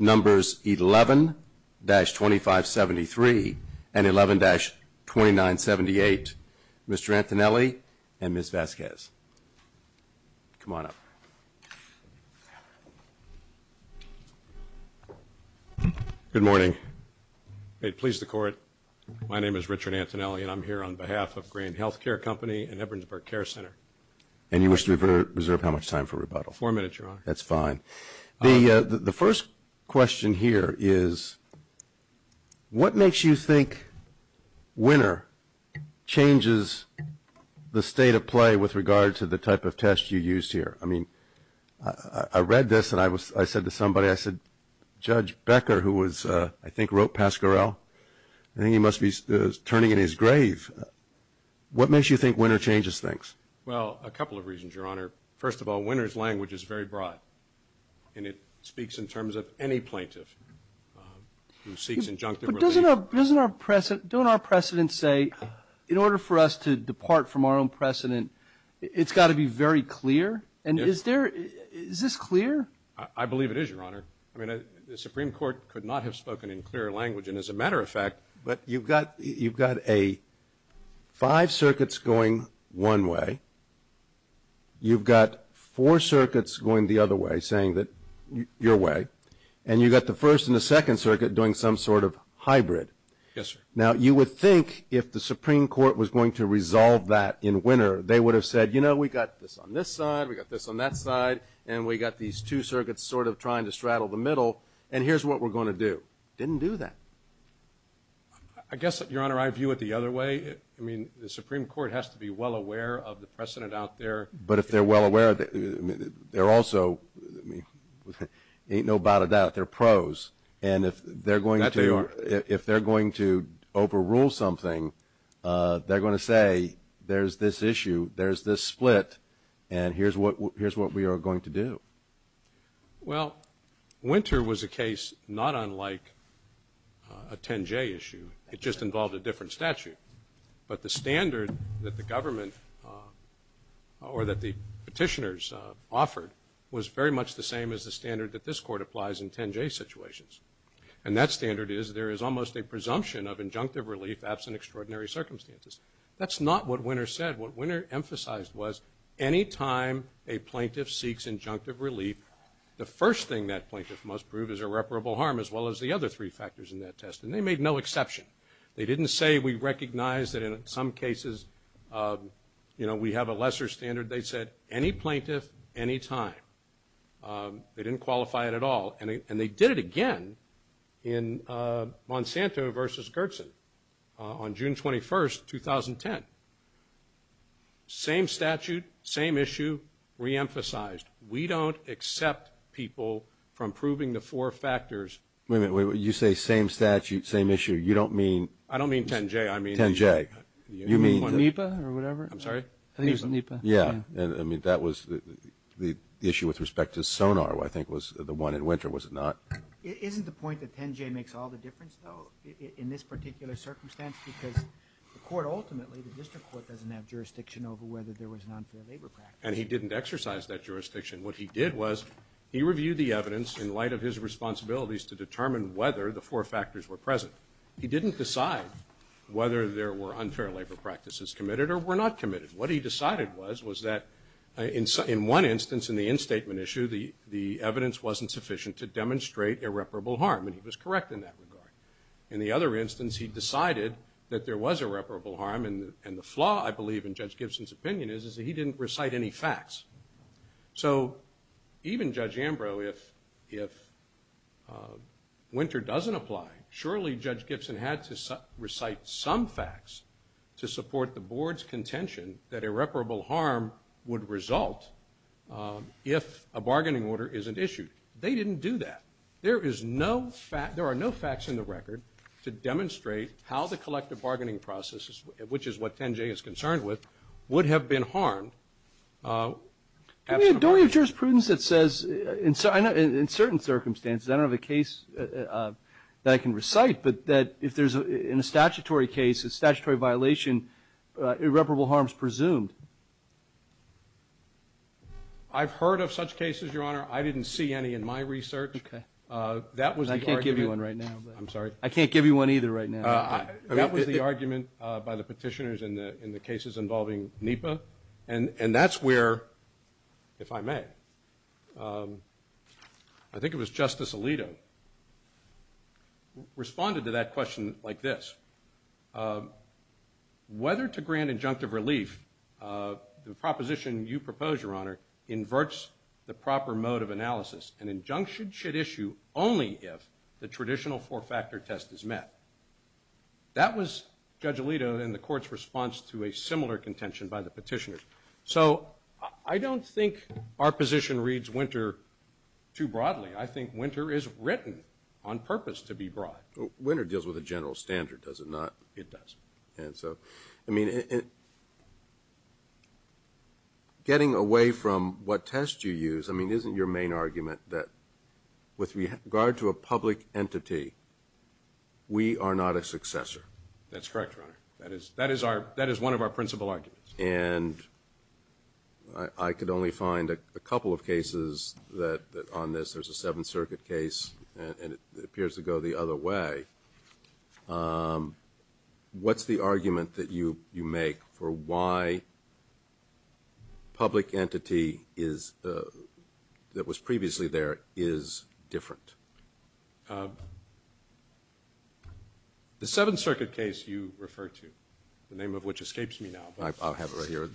numbers 11-2573 and 11-2978. Mr. Antonelli and Ms. Vazquez. Come on up. Good morning. Please the court. My name is Richard Antonelli and I'm here on behalf of Grane Healthcare Company and Ebernsburg Care Center. And you wish to reserve how much time for rebuttal? Four minutes, Your Honor. That's fine. The first question here is, what makes you think WINR changes the state of play with regard to the type of test you used here? I mean, I read this and I was I said to somebody, I said, Judge Becker, who was, I think, wrote Pascarell, I think he must be turning in his grave. What makes you think WINR changes things? Well, a couple of reasons, Your Honor. First of all, WINR's language is very broad and it speaks in terms of any plaintiff who seeks injunctive. But doesn't doesn't our precedent don't our precedent say in order for us to depart from our own precedent, it's got to be very clear. And is there is this clear? I believe it is, Your Honor. I mean, the Supreme Court could not have spoken in clear language. And as a matter of fact, but you've got you've got a five circuits going one way. You've got four circuits going the other way, saying that your way. And you've got the first and the second circuit doing some sort of hybrid. Yes, sir. Now, you would think if the Supreme Court was going to resolve that in WINR, they would have said, you know, we got this on this side. We got this on that side and we got these two circuits sort of trying to straddle the middle. And here's what we're going to do. Didn't do that. I guess, Your Honor, I view it the other way. I mean, the Supreme Court has to be well aware of the precedent out there. But if they're well aware, they're also ain't no doubt about it, they're pros. And if they're going to if they're going to overrule something, they're going to say, there's this issue, there's this split. And here's what here's what we are going to do. Well, WINR was a case not unlike a 10-J issue. It just involved a different statute. But the standard that the government or that the petitioners offered was very much the same as the standard that this court applies in 10-J situations. And that standard is there is almost a presumption of injunctive relief absent extraordinary circumstances. That's not what WINR said. What WINR emphasized was any time a plaintiff seeks injunctive relief, the first thing that plaintiff must prove is irreparable harm, as well as the other three factors in that test. And they made no exception. They didn't say we recognize that in some cases, you know, we have a lesser standard. They said any plaintiff, any time. They didn't qualify it at all. And they did it again in Monsanto versus Gertsen on June 21st, 2010. Same statute, same issue, reemphasized. We don't accept people from proving the four factors. Wait a minute. You say same statute, same issue. You don't mean? I don't mean 10-J. 10-J. You mean? NEPA or whatever. I'm sorry? I think it was NEPA. Yeah. I mean, that was the issue with respect to Sonar, I think, was the one in Winter, was it not? Isn't the point that 10-J makes all the difference, though, in this particular circumstance? Because the court ultimately, the district court doesn't have jurisdiction over whether there was an unfair labor practice. And he didn't exercise that jurisdiction. What he did was he reviewed the evidence in light of his responsibilities to determine whether the four factors were present. He didn't decide whether there were unfair labor practices committed or were not committed. What he decided was, was that in one instance, in the instatement issue, the evidence wasn't sufficient to demonstrate irreparable harm. And he was correct in that regard. In the other instance, he decided that there was irreparable harm. And the flaw, I believe, in Judge Gibson's opinion is that he didn't recite any facts. So even Judge Ambrose, if Winter doesn't apply, surely Judge Gibson had to recite some facts to support the board's contention that irreparable harm would result if a bargaining order isn't issued. They didn't do that. There is no fact, there are no facts in the record to demonstrate how the collective bargaining processes, which is what 10-J is concerned with, would have been harmed. Do we have jurisprudence that says, in certain circumstances, I don't have a case that I can recite, but that if there's a statutory case, a statutory violation, irreparable harm is presumed? I've heard of such cases, Your Honor. I didn't see any in my research. Okay. That was the argument. I can't give you one right now. I'm sorry? I can't give you one either right now. That was the argument by the petitioners in the cases involving NEPA. And that's where, if I may, I think it was Justice Alito, responded to that question like this. Whether to grant injunctive relief, the proposition you propose, Your Honor, inverts the proper mode of analysis. An injunction should issue only if the traditional four-factor test is met. That was Judge Alito and the Court's response to a similar contention by the petitioners. So I don't think our position reads Winter too broadly. I think Winter is written on purpose to be broad. Winter deals with the general standard, does it not? It does. And so, I mean, getting away from what test you use, I mean, isn't your main argument that with regard to a public entity, we are not a successor? That's correct, Your Honor. That is one of our principal arguments. And I could only find a couple of cases on this. There's a Seventh Circuit case, and it appears to go the other way. What's the argument that you make for why public entity that was previously there is different? The Seventh Circuit case you refer to, the name of which escapes me now. I'll have it right here.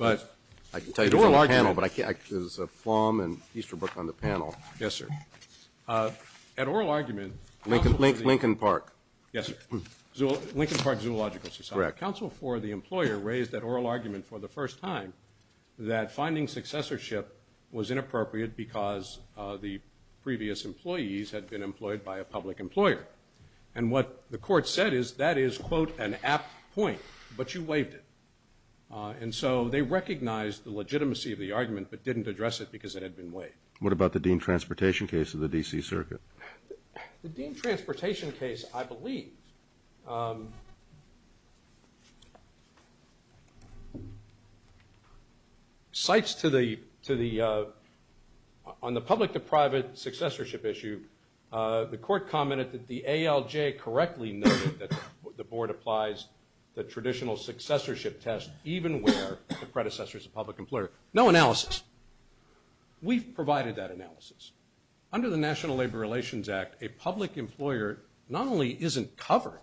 I can tell you from the panel, but I can't. There's Flom and Easterbrook on the panel. Yes, sir. At oral argument, counsel for the – Lincoln Park. Yes, sir. Lincoln Park Zoological Society. Correct. Counsel for the employer raised at oral argument for the first time that finding successorship was inappropriate because the previous employees had been employed by a public employer. And what the court said is that is, quote, an apt point, but you waived it. And so they recognized the legitimacy of the argument but didn't address it because it had been waived. What about the Dean Transportation case of the D.C. Circuit? Cites to the – on the public-to-private successorship issue, the court commented that the ALJ correctly noted that the board applies the traditional successorship test, even where the predecessor is a public employer. No analysis. We've provided that analysis. Under the National Labor Relations Act, a public employer not only isn't covered,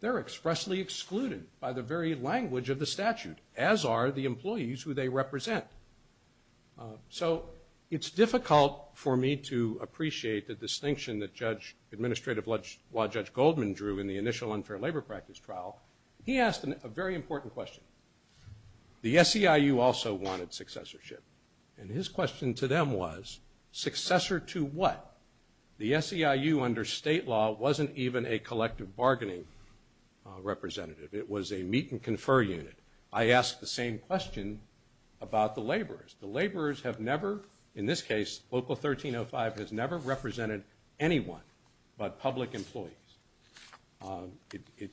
they're expressly excluded by the very language of the statute, as are the employees who they represent. So it's difficult for me to appreciate the distinction that Judge – Administrative Law Judge Goldman drew in the initial unfair labor practice trial. He asked a very important question. The SEIU also wanted successorship. And his question to them was, successor to what? The SEIU under state law wasn't even a collective bargaining representative. It was a meet-and-confer unit. I asked the same question about the laborers. The laborers have never – in this case, Local 1305 has never represented anyone but public employees.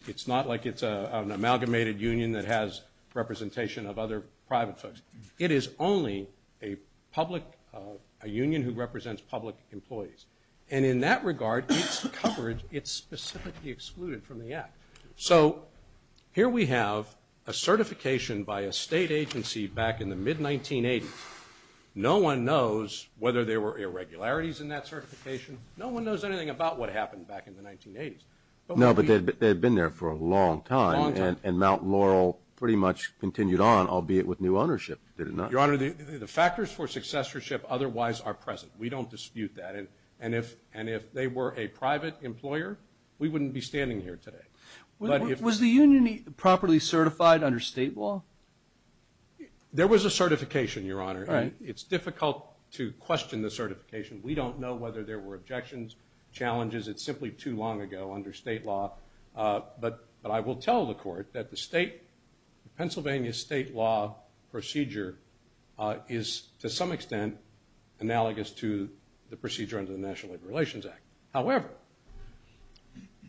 It's not like it's an amalgamated union that has representation of other private folks. It is only a public – a union who represents public employees. And in that regard, its coverage, it's specifically excluded from the act. So here we have a certification by a state agency back in the mid-1980s. No one knows whether there were irregularities in that certification. No one knows anything about what happened back in the 1980s. No, but they had been there for a long time. Long time. And Mount Laurel pretty much continued on, albeit with new ownership, did it not? Your Honor, the factors for successorship otherwise are present. We don't dispute that. And if they were a private employer, we wouldn't be standing here today. Was the union properly certified under state law? There was a certification, Your Honor. It's difficult to question the certification. We don't know whether there were objections, challenges. It's simply too long ago under state law. But I will tell the court that the state – Pennsylvania state law procedure is, to some extent, analogous to the procedure under the National Labor Relations Act. However,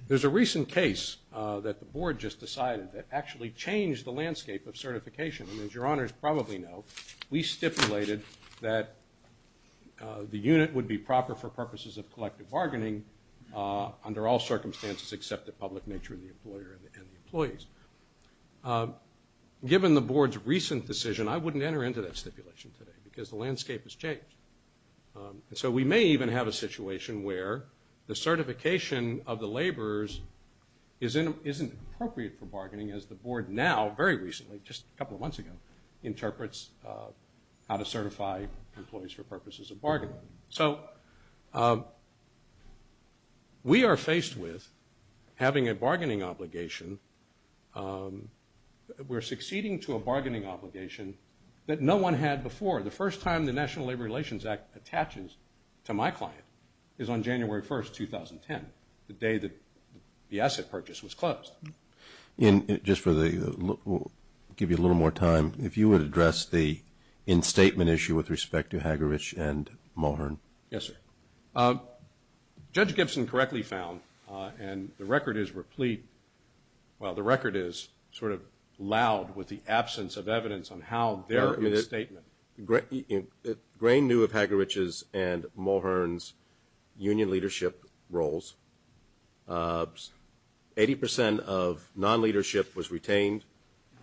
there's a recent case that the board just decided that actually changed the landscape of certification. And as Your Honors probably know, we stipulated that the unit would be proper for purposes of collective bargaining under all circumstances except the public nature of the employer and the employees. Given the board's recent decision, I wouldn't enter into that stipulation today because the landscape has changed. And so we may even have a situation where the certification of the laborers isn't appropriate for bargaining as the board now, very recently, just a couple of months ago, interprets how to certify employees for purposes of bargaining. So we are faced with having a bargaining obligation. We're succeeding to a bargaining obligation that no one had before. The first time the National Labor Relations Act attaches to my client is on January 1, 2010, the day that the asset purchase was closed. Just for the – we'll give you a little more time. If you would address the in-statement issue with respect to Hagerich and Mulhern. Yes, sir. Judge Gibson correctly found, and the record is replete – well, the record is sort of loud with the absence of evidence on how their in-statement. Grain knew of Hagerich's and Mulhern's union leadership roles. Eighty percent of non-leadership was retained.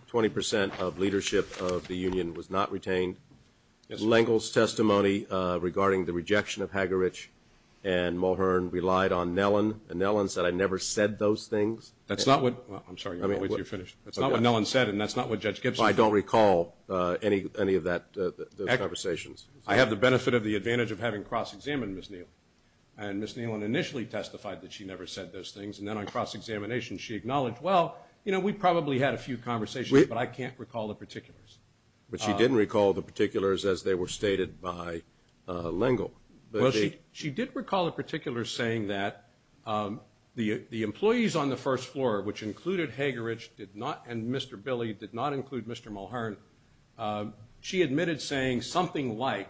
Twenty percent of leadership of the union was not retained. Lengel's testimony regarding the rejection of Hagerich and Mulhern relied on Nellen, and Nellen said, I never said those things. That's not what – I'm sorry. You're finished. That's not what Nellen said, and that's not what Judge Gibson said. I don't recall any of that – those conversations. I have the benefit of the advantage of having cross-examined Ms. Neelan. And Ms. Neelan initially testified that she never said those things, and then on cross-examination she acknowledged, well, you know, we probably had a few conversations, but I can't recall the particulars. But she didn't recall the particulars as they were stated by Lengel. Well, she did recall the particulars saying that the employees on the first floor, which included Hagerich and Mr. Billy, did not include Mr. Mulhern, she admitted saying something like,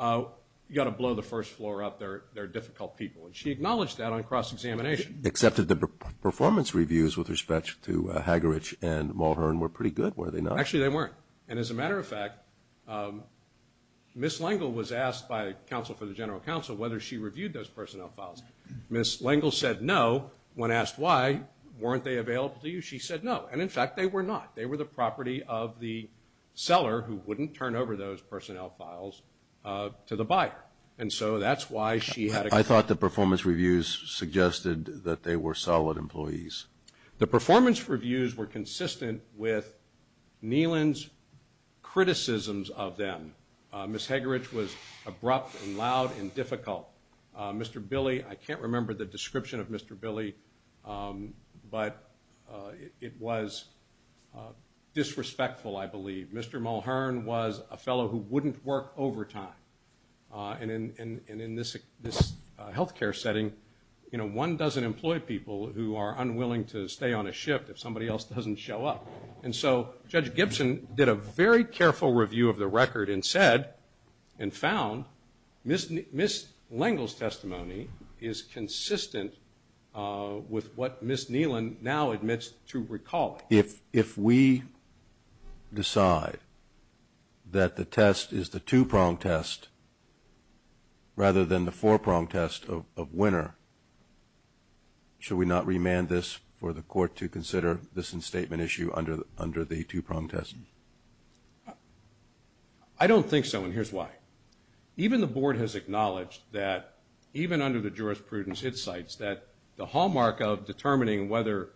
you've got to blow the first floor up, they're difficult people, and she acknowledged that on cross-examination. Except that the performance reviews with respect to Hagerich and Mulhern were pretty good, were they not? Actually, they weren't. And as a matter of fact, Ms. Lengel was asked by counsel for the general counsel whether she reviewed those personnel files. Ms. Lengel said no. When asked why, weren't they available to you, she said no. And, in fact, they were not. They were the property of the seller, who wouldn't turn over those personnel files to the buyer. And so that's why she had a – I thought the performance reviews suggested that they were solid employees. The performance reviews were consistent with Neelan's criticisms of them. Ms. Hagerich was abrupt and loud and difficult. Mr. Billy, I can't remember the description of Mr. Billy, but it was disrespectful, I believe. Mr. Mulhern was a fellow who wouldn't work overtime. And in this health care setting, you know, one doesn't employ people who are unwilling to stay on a shift if somebody else doesn't show up. And so Judge Gibson did a very careful review of the record and said and found Ms. Lengel's testimony is consistent with what Ms. Neelan now admits to recalling. If we decide that the test is the two-prong test rather than the four-prong test of winner, should we not remand this for the court to consider this in-statement issue under the two-prong test? I don't think so, and here's why. Even the Board has acknowledged that even under the jurisprudence it cites, that the hallmark of determining whether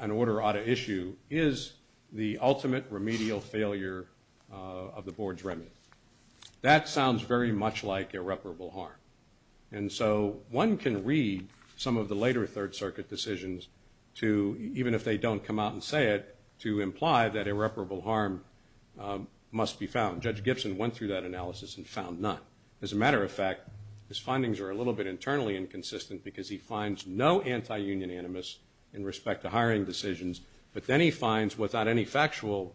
an order ought to issue is the ultimate remedial failure of the Board's remedy. That sounds very much like irreparable harm. And so one can read some of the later Third Circuit decisions to, even if they don't come out and say it, to imply that irreparable harm must be found. Judge Gibson went through that analysis and found none. As a matter of fact, his findings are a little bit internally inconsistent because he finds no anti-union animus in respect to hiring decisions, but then he finds without any factual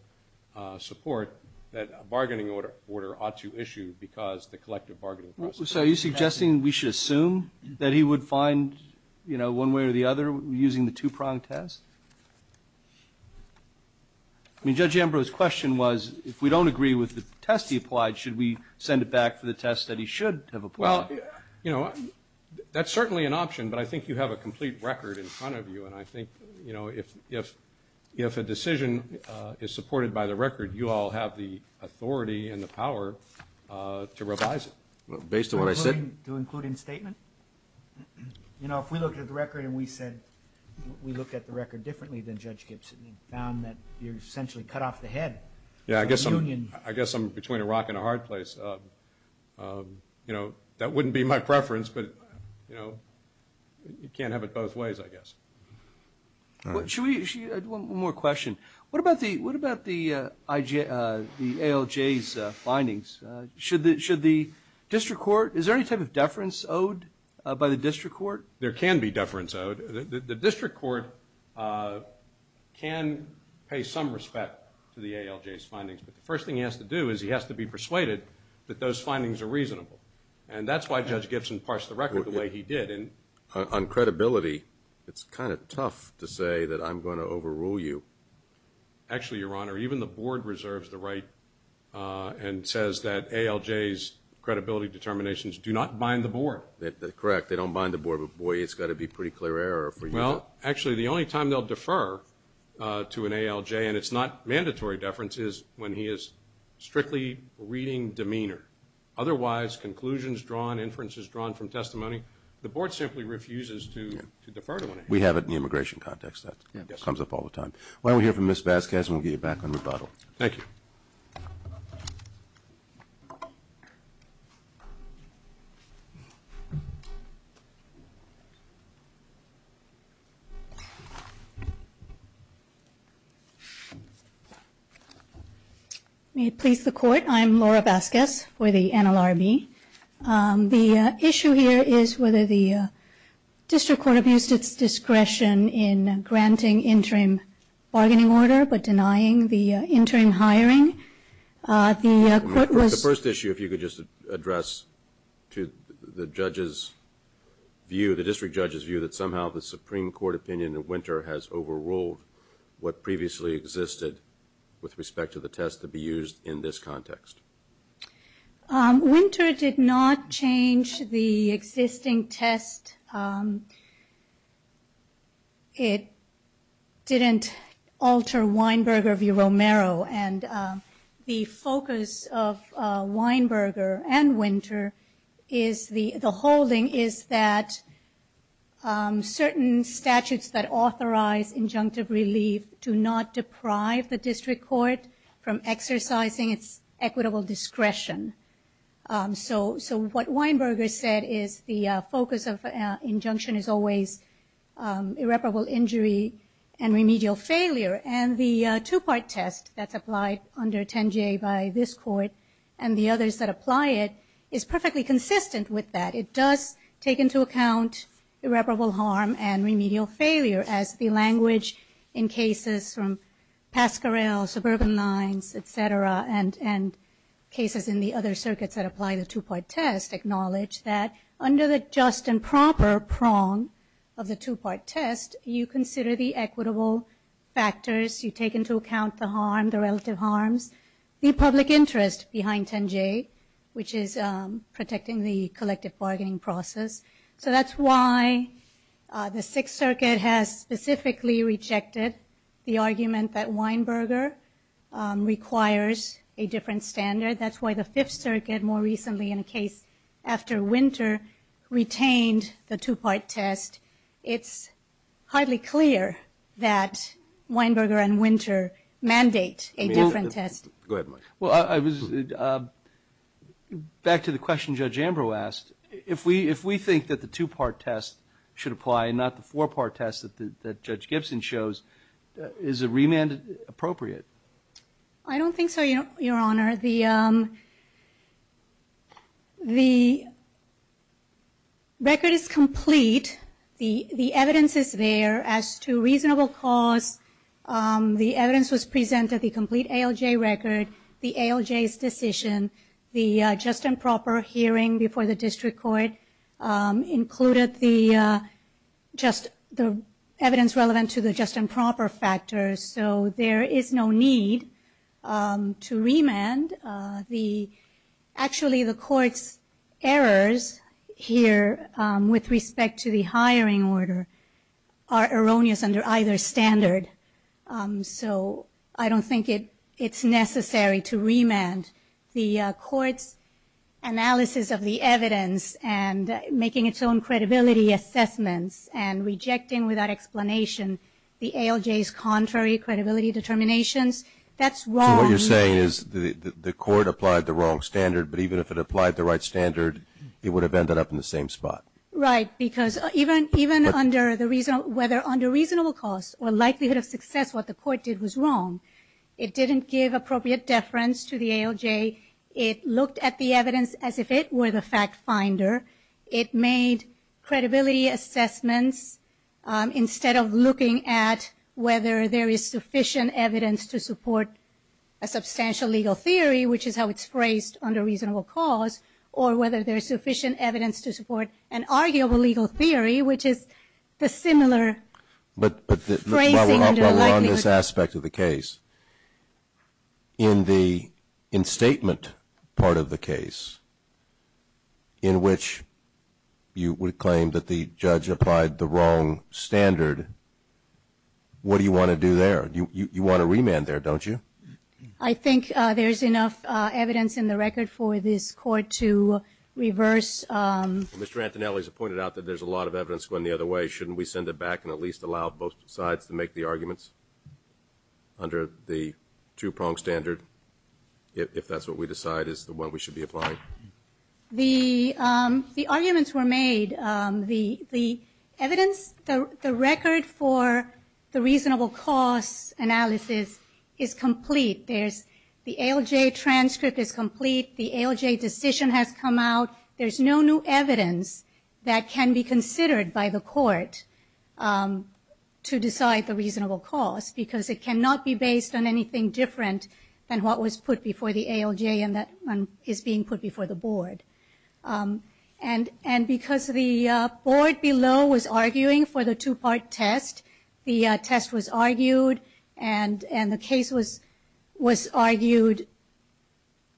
support that a bargaining order ought to issue because the collective bargaining process. So are you suggesting we should assume that he would find, you know, one way or the other using the two-prong test? I mean, Judge Ambrose's question was if we don't agree with the test he applied, should we send it back for the test that he should have applied? Well, you know, that's certainly an option, but I think you have a complete record in front of you, and I think, you know, if a decision is supported by the record, you all have the authority and the power to revise it. Based on what I said? To include in statement? You know, if we looked at the record and we said, we looked at the record differently than Judge Gibson and found that you essentially cut off the head of the union. I guess I'm between a rock and a hard place. You know, that wouldn't be my preference, but, you know, you can't have it both ways, I guess. One more question. What about the ALJ's findings? Should the district court, is there any type of deference owed by the district court? There can be deference owed. The district court can pay some respect to the ALJ's findings, but the first thing he has to do is he has to be persuaded that those findings are reasonable, and that's why Judge Gibson parsed the record the way he did. On credibility, it's kind of tough to say that I'm going to overrule you. Actually, Your Honor, even the board reserves the right and says that ALJ's credibility determinations do not bind the board. Correct. They don't bind the board, but, boy, it's got to be pretty clear error for you. Well, actually, the only time they'll defer to an ALJ, and it's not mandatory deference, is when he is strictly reading demeanor. Otherwise, conclusions drawn, inferences drawn from testimony, the board simply refuses to defer to an ALJ. We have it in the immigration context. That comes up all the time. Why don't we hear from Ms. Vasquez, and we'll get you back on rebuttal. Thank you. May it please the Court. I'm Laura Vasquez for the NLRB. The issue here is whether the district court abused its discretion in granting interim bargaining order but denying the interim hiring. The court was ---- The first issue, if you could just address to the judge's view, the district judge's view, that somehow the Supreme Court opinion of Winter has overruled what previously existed with respect to the test to be used in this context. Winter did not change the existing test. It didn't alter Weinberger v. Romero, and the focus of Weinberger and Winter is the holding is that certain statutes that authorize injunctive relief do not deprive the district court from exercising its equitable discretion. So what Weinberger said is the focus of injunction is always irreparable injury and remedial failure, and the two-part test that's applied under 10J by this Court and the others that apply it is perfectly consistent with that. It does take into account irreparable harm and remedial failure, as the language in cases from Pascarell, suburban lines, et cetera, and cases in the other circuits that apply the two-part test acknowledge that under the just and proper prong of the two-part test, you consider the equitable factors, you take into account the harm, the relative harms, the public interest behind 10J, which is protecting the collective bargaining process. So that's why the Sixth Circuit has specifically rejected the argument that Weinberger requires a different standard. That's why the Fifth Circuit more recently in a case after Winter retained the two-part test. It's highly clear that Weinberger and Winter mandate a different test. Go ahead, Mike. Well, back to the question Judge Ambrose asked, if we think that the two-part test should apply and not the four-part test that Judge Gibson shows, is a remand appropriate? I don't think so, Your Honor. The record is complete. The evidence is there as to reasonable cause. The evidence was presented, the complete ALJ record, the ALJ's decision, the just and proper hearing before the district court included the evidence relevant to the just and proper factors. So there is no need to remand. Actually, the court's errors here with respect to the hiring order are erroneous under either standard. So I don't think it's necessary to remand. The court's analysis of the evidence and making its own credibility assessments and rejecting without explanation the ALJ's contrary credibility determinations, that's wrong. So what you're saying is the court applied the wrong standard, but even if it applied the right standard, it would have ended up in the same spot. Right, because even under the reasonable, whether under reasonable cause or likelihood of success, what the court did was wrong. It didn't give appropriate deference to the ALJ. It looked at the evidence as if it were the fact finder. It made credibility assessments instead of looking at whether there is sufficient evidence to support a substantial legal theory, which is how it's phrased under reasonable cause, or whether there is sufficient evidence to support an arguable legal theory, which is the similar phrasing under likelihood. In the instatement part of the case, in which you would claim that the judge applied the wrong standard, what do you want to do there? You want to remand there, don't you? I think there's enough evidence in the record for this court to reverse. Mr. Antonelli has pointed out that there's a lot of evidence going the other way. Shouldn't we send it back and at least allow both sides to make the arguments under the two-prong standard, if that's what we decide is the one we should be applying? The arguments were made. The evidence, the record for the reasonable cause analysis is complete. The ALJ transcript is complete. The ALJ decision has come out. There's no new evidence that can be considered by the court to decide the reasonable cause, because it cannot be based on anything different than what was put before the ALJ and that is being put before the board. Because the board below was arguing for the two-part test, the test was argued and the case was argued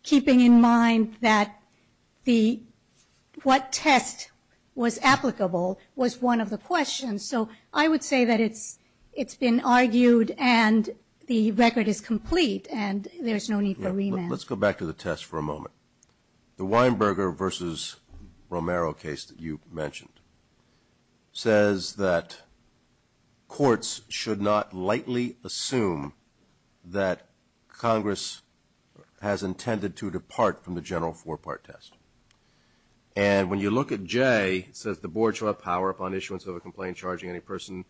keeping in mind that what test was applicable was one of the questions. So I would say that it's been argued and the record is complete and there's no need for remand. Let's go back to the test for a moment. The Weinberger v. Romero case that you mentioned says that courts should not lightly assume that Congress has intended to depart from the general four-part test. And when you look at J, it says the board shall have power upon issuance of a complaint charging any person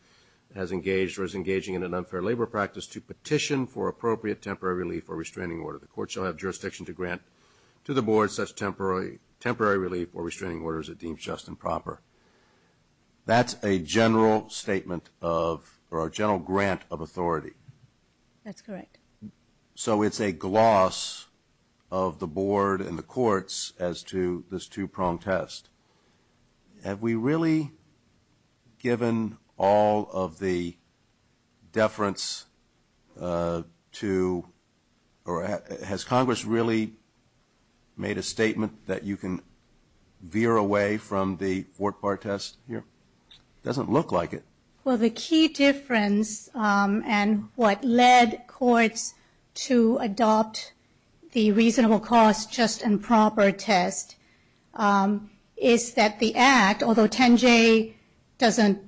who has engaged or is engaging in an unfair labor practice to petition for appropriate temporary relief or restraining order. The court shall have jurisdiction to grant to the board such temporary relief That's a general statement of, or a general grant of authority. That's correct. So it's a gloss of the board and the courts as to this two-prong test. Have we really given all of the deference to, or has Congress really made a statement that you can veer away from the four-part test here? It doesn't look like it. Well, the key difference and what led courts to adopt the reasonable cost, just and proper test is that the Act, although 10J doesn't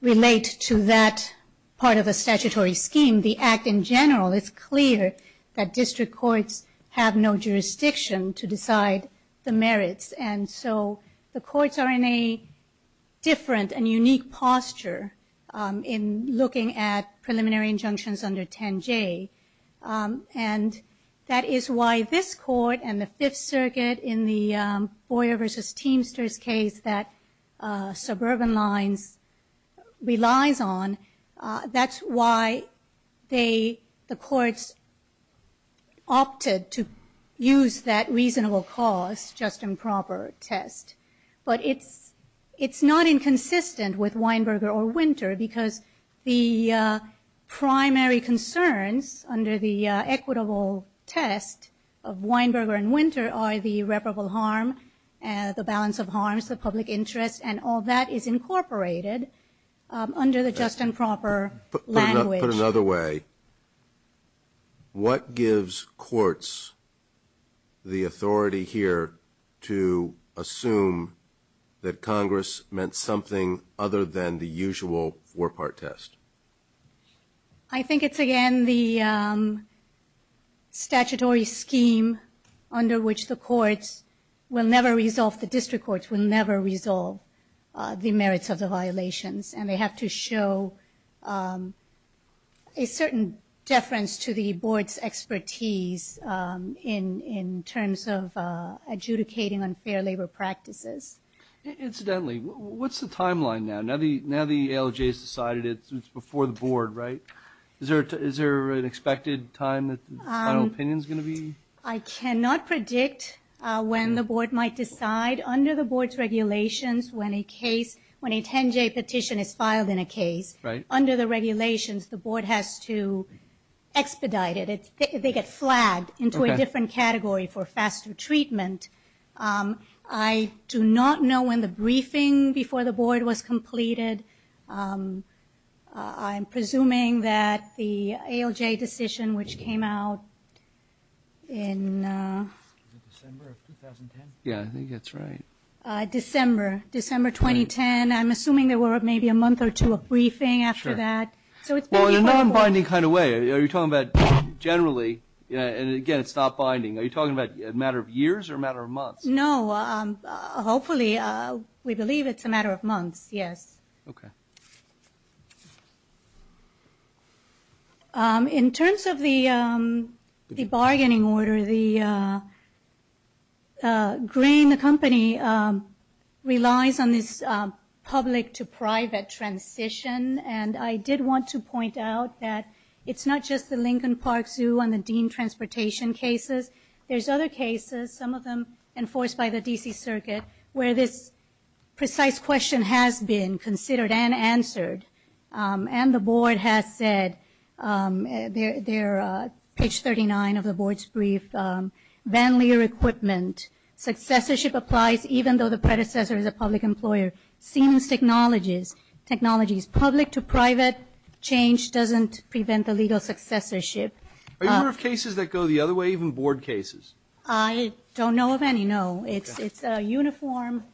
relate to that part of the statutory scheme, the Act in general, it's clear that district courts have no jurisdiction to decide the merits. And so the courts are in a different and unique posture in looking at preliminary injunctions under 10J. And that is why this court and the Fifth Circuit in the Boyer v. Teamsters case that suburban lines relies on, that's why the courts opted to use that reasonable cost, just and proper test. But it's not inconsistent with Weinberger or Winter because the primary concerns under the equitable test of Weinberger and Winter are the irreparable harm, the balance of harms, the public interest, and all that is incorporated under the just and proper language. Put another way, what gives courts the authority here to assume that Congress meant something other than the usual four-part test? I think it's, again, the statutory scheme under which the courts will never resolve, the district courts will never resolve the merits of the violations. And they have to show a certain deference to the board's expertise in terms of adjudicating unfair labor practices. Incidentally, what's the timeline now? Now the ALJ has decided it's before the board, right? Is there an expected time that the final opinion is going to be? I cannot predict when the board might decide. Under the board's regulations, when a 10J petition is filed in a case, under the regulations, the board has to expedite it. They get flagged into a different category for faster treatment. I do not know when the briefing before the board was completed. I'm presuming that the ALJ decision, which came out in December 2010, I'm assuming there were maybe a month or two of briefing after that. Well, in a non-binding kind of way, are you talking about generally, and again, it's not binding, are you talking about a matter of years or a matter of months? No. Hopefully, we believe it's a matter of months, yes. Okay. In terms of the bargaining order, Green, the company, relies on this public-to-private transition. And I did want to point out that it's not just the Lincoln Park Zoo and the dean transportation cases. There's other cases, some of them enforced by the D.C. Circuit, where this precise question has been considered and answered. And the board has said, page 39 of the board's brief, vanlier equipment, successorship applies even though the predecessor is a public employer, seems technologies, public-to-private change doesn't prevent the legal successorship. Are you aware of cases that go the other way, even board cases? I don't know of any, no. It's a uniform,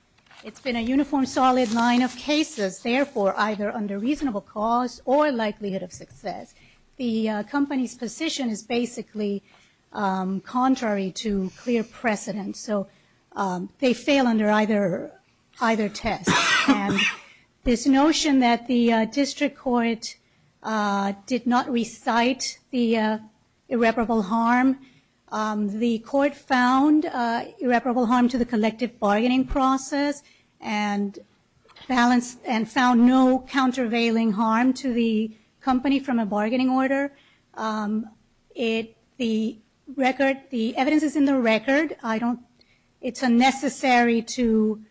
it's been a uniform solid line of cases, therefore either under reasonable cause or likelihood of success. The company's position is basically contrary to clear precedence. So they fail under either test. This notion that the district court did not recite the irreparable harm, the court found irreparable harm to the collective bargaining process and found no countervailing harm to the company from a bargaining order. It, the record, the evidence is in the record. I don't, it's unnecessary to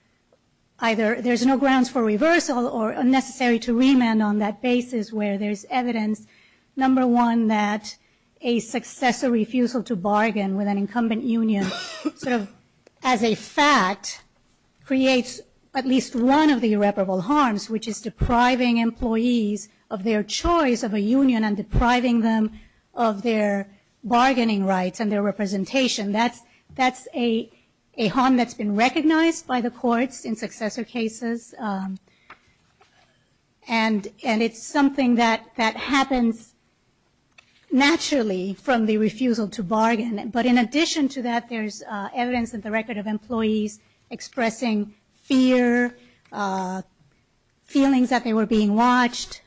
either, there's no grounds for reversal or unnecessary to remand on that basis where there's evidence, number one, that a successor refusal to bargain with an incumbent union, sort of as a fact, creates at least one of the irreparable harms, which is depriving employees of their choice of a union and depriving them of their bargaining rights and their representation. That's a harm that's been recognized by the courts in successor cases. And it's something that happens naturally from the refusal to bargain. But in addition to that, there's evidence in the record of employees expressing fear, feelings that they were being watched,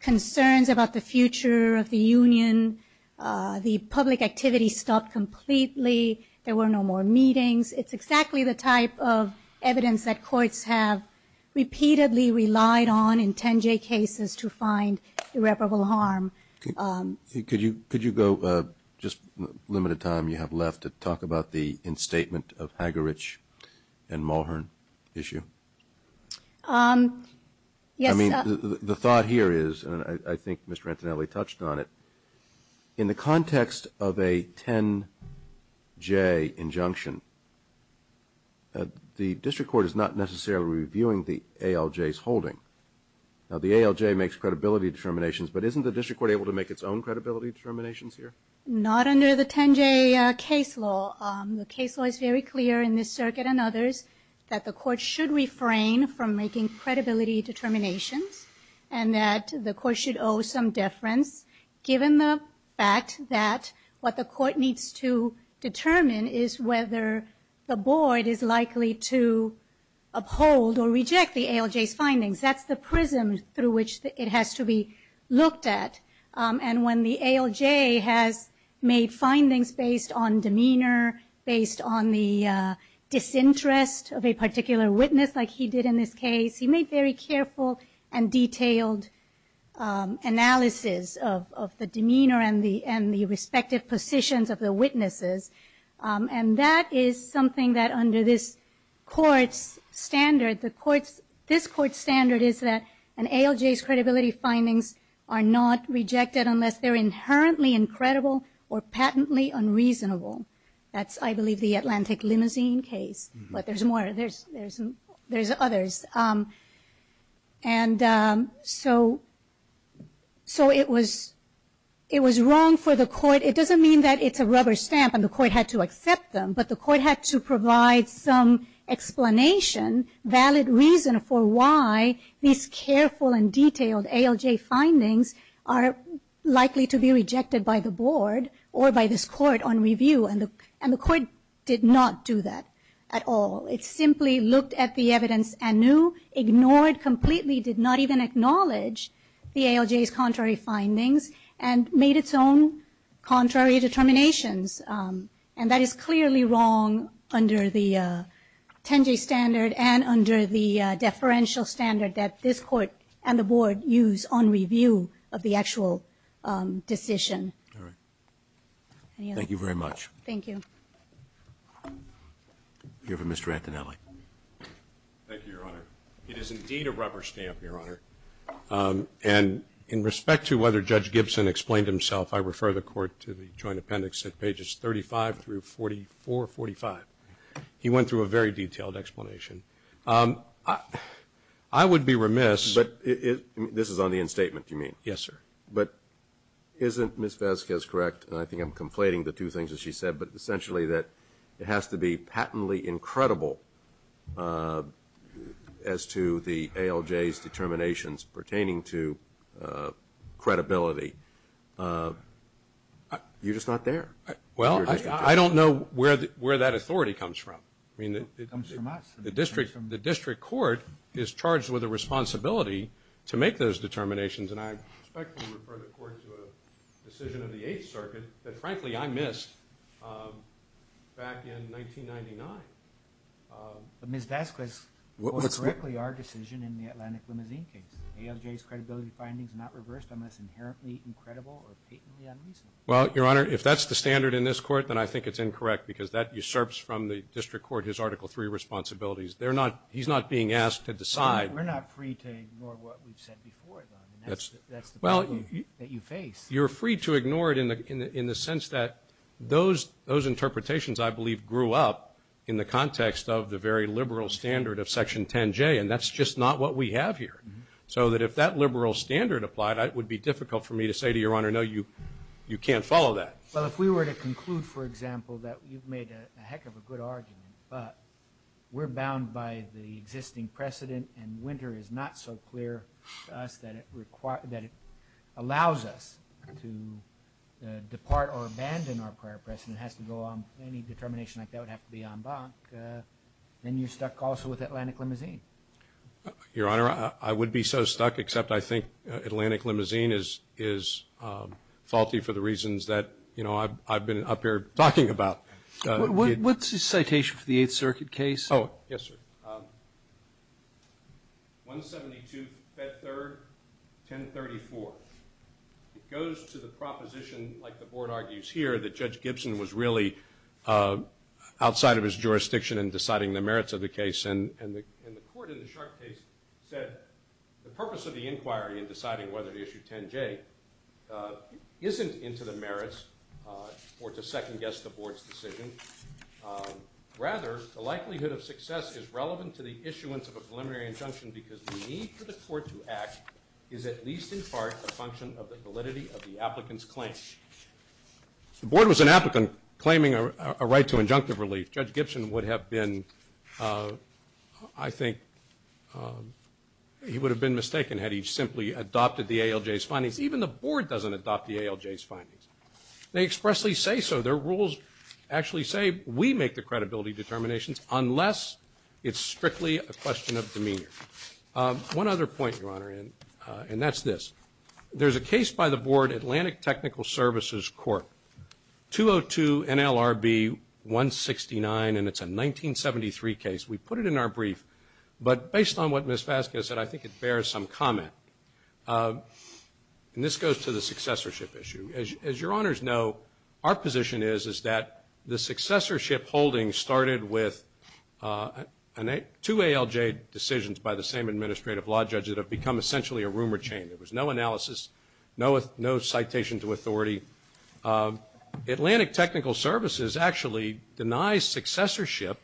concerns about the future of the union, the public activity stopped completely, there were no more meetings. It's exactly the type of evidence that courts have repeatedly relied on in 10J cases to find irreparable harm. Could you go, just the limited time you have left, to talk about the instatement of Hagerich and Mulhern issue? Yes. I mean, the thought here is, and I think Mr. Antonelli touched on it, in the context of a 10J injunction, the district court is not necessarily reviewing the ALJ's holding. Now, the ALJ makes credibility determinations, but isn't the district court able to make its own credibility determinations here? Not under the 10J case law. The case law is very clear in this circuit and others that the court should refrain from making credibility determinations and that the court should owe some deference, given the fact that what the court needs to determine is whether the board is likely to uphold or reject the ALJ's findings. That's the prism through which it has to be looked at. And when the ALJ has made findings based on demeanor, based on the disinterest of a particular witness, like he did in this case, he made very careful and detailed analysis of the demeanor and the respective positions of the witnesses. And that is something that under this court's standard, this court's standard is that an ALJ's credibility findings are not rejected unless they're inherently incredible or patently unreasonable. That's, I believe, the Atlantic Limousine case. But there's more. There's others. And so it was wrong for the court. It doesn't mean that it's a rubber stamp and the court had to accept them, but the court had to provide some explanation, valid reason for why these careful and detailed ALJ findings are likely to be rejected by the board or by this court on review. And the court did not do that at all. It simply looked at the evidence anew, ignored completely, did not even acknowledge the ALJ's contrary findings, and made its own contrary determinations. And that is clearly wrong under the 10-J standard and under the deferential standard that this court and the board use on review of the actual decision. Roberts. Thank you very much. Thank you. Here for Mr. Antonelli. Thank you, Your Honor. It is indeed a rubber stamp, Your Honor. And in respect to whether Judge Gibson explained himself, I refer the court to the joint appendix at pages 35 through 44, 45. He went through a very detailed explanation. I would be remiss. But this is on the end statement, do you mean? Yes, sir. But isn't Ms. Vasquez correct, and I think I'm conflating the two things that she said, but essentially that it has to be patently incredible as to the ALJ's You're just not there. Well, I don't know where that authority comes from. It comes from us. The district court is charged with a responsibility to make those determinations, and I respectfully refer the court to a decision of the Eighth Circuit that, frankly, I missed back in 1999. Ms. Vasquez put correctly our decision in the Atlantic Limousine case. ALJ's credibility findings are not reversed unless inherently incredible or patently unreasonable. Well, Your Honor, if that's the standard in this court, then I think it's incorrect because that usurps from the district court his Article III responsibilities. He's not being asked to decide. We're not free to ignore what we've said before, though. That's the problem that you face. You're free to ignore it in the sense that those interpretations, I believe, grew up in the context of the very liberal standard of Section 10J, and that's just not what we have here. So that if that liberal standard applied, it would be difficult for me to say to Your Honor, no, you can't follow that. Well, if we were to conclude, for example, that you've made a heck of a good argument, but we're bound by the existing precedent and winter is not so clear to us that it allows us to depart or abandon our prior precedent. It has to go on. Any determination like that would have to be en banc. Then you're stuck also with Atlantic Limousine. Your Honor, I would be so stuck, except I think Atlantic Limousine is faulty for the reasons that, you know, I've been up here talking about. What's the citation for the Eighth Circuit case? Oh, yes, sir. 172, Fed Third, 1034. It goes to the proposition, like the Board argues here, that Judge Gibson was really outside of his jurisdiction in deciding the merits of the case. And the Court in the Sharpe case said the purpose of the inquiry in deciding whether to issue 10J isn't into the merits or to second-guess the Board's decision. Rather, the likelihood of success is relevant to the issuance of a preliminary injunction because the need for the Court to act is at least in part a function of the validity of the applicant's claim. The Board was an applicant claiming a right to injunctive relief. Judge Gibson would have been, I think he would have been mistaken had he simply adopted the ALJ's findings. Even the Board doesn't adopt the ALJ's findings. They expressly say so. Their rules actually say we make the credibility determinations unless it's strictly a question of demeanor. One other point, Your Honor, and that's this. There's a case by the Board, Atlantic Technical Services Court, 202 NLRB 169, and it's a 1973 case. We put it in our brief, but based on what Ms. Vasquez said, I think it bears some comment. And this goes to the successorship issue. As Your Honors know, our position is that the successorship holding started with two ALJ decisions by the same administrative law judge that have become essentially a rumor chain. There was no analysis, no citation to authority. Atlantic Technical Services actually denies successorship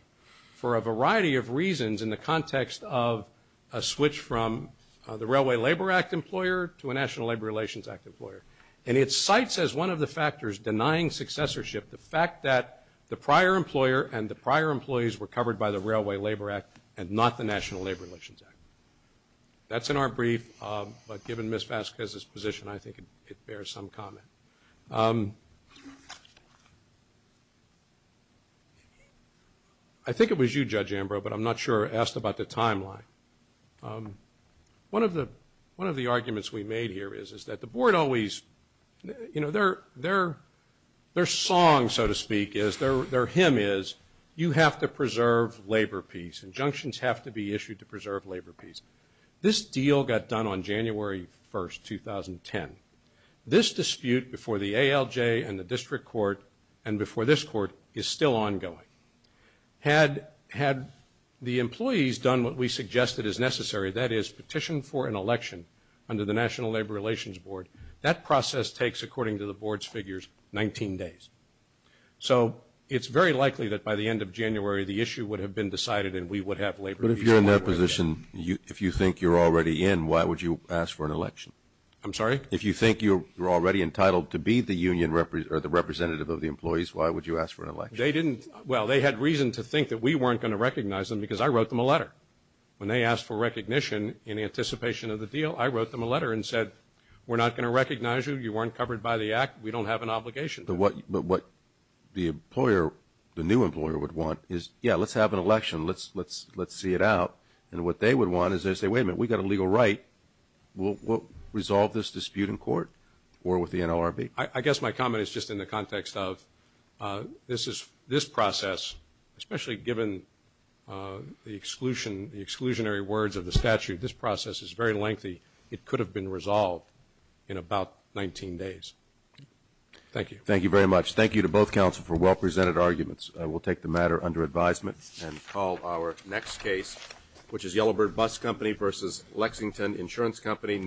for a variety of reasons in the context of a switch from the Railway Labor Act employer to a National Labor Relations Act employer. And it cites as one of the factors denying successorship the fact that the prior employer and the prior employees were covered by the Railway Labor Act and not the National Labor Relations Act. That's in our brief, but given Ms. Vasquez's position, I think it bears some comment. I think it was you, Judge Ambrose, but I'm not sure. I asked about the timeline. One of the arguments we made here is that the Board always, you know, their song, so to speak, is, their hymn is, you have to preserve labor peace. Injunctions have to be issued to preserve labor peace. This deal got done on January 1st, 2010. This dispute before the ALJ and the district court and before this court is still ongoing. Had the employees done what we suggested is necessary, that is, petition for an election under the National Labor Relations Board, that process takes, according to the Board's figures, 19 days. So it's very likely that by the end of January the issue would have been decided and we would have labor peace. But if you're in that position, if you think you're already in, why would you ask for an election? I'm sorry? If you think you're already entitled to be the representative of the employees, why would you ask for an election? They didn't, well, they had reason to think that we weren't going to recognize them because I wrote them a letter. When they asked for recognition in anticipation of the deal, I wrote them a letter and said, we're not going to recognize you, you weren't covered by the act, we don't have an obligation. But what the employer, the new employer would want is, yeah, let's have an election, let's see it out. And what they would want is they say, wait a minute, we've got a legal right, we'll resolve this dispute in court or with the NLRB. I guess my comment is just in the context of this process, especially given the exclusionary words of the statute, this process is very lengthy. It could have been resolved in about 19 days. Thank you. Thank you very much. Thank you to both counsel for well-presented arguments. We'll take the matter under advisement and call our next case, which is Yellowbird Bus Company v. Lexington Insurance Company.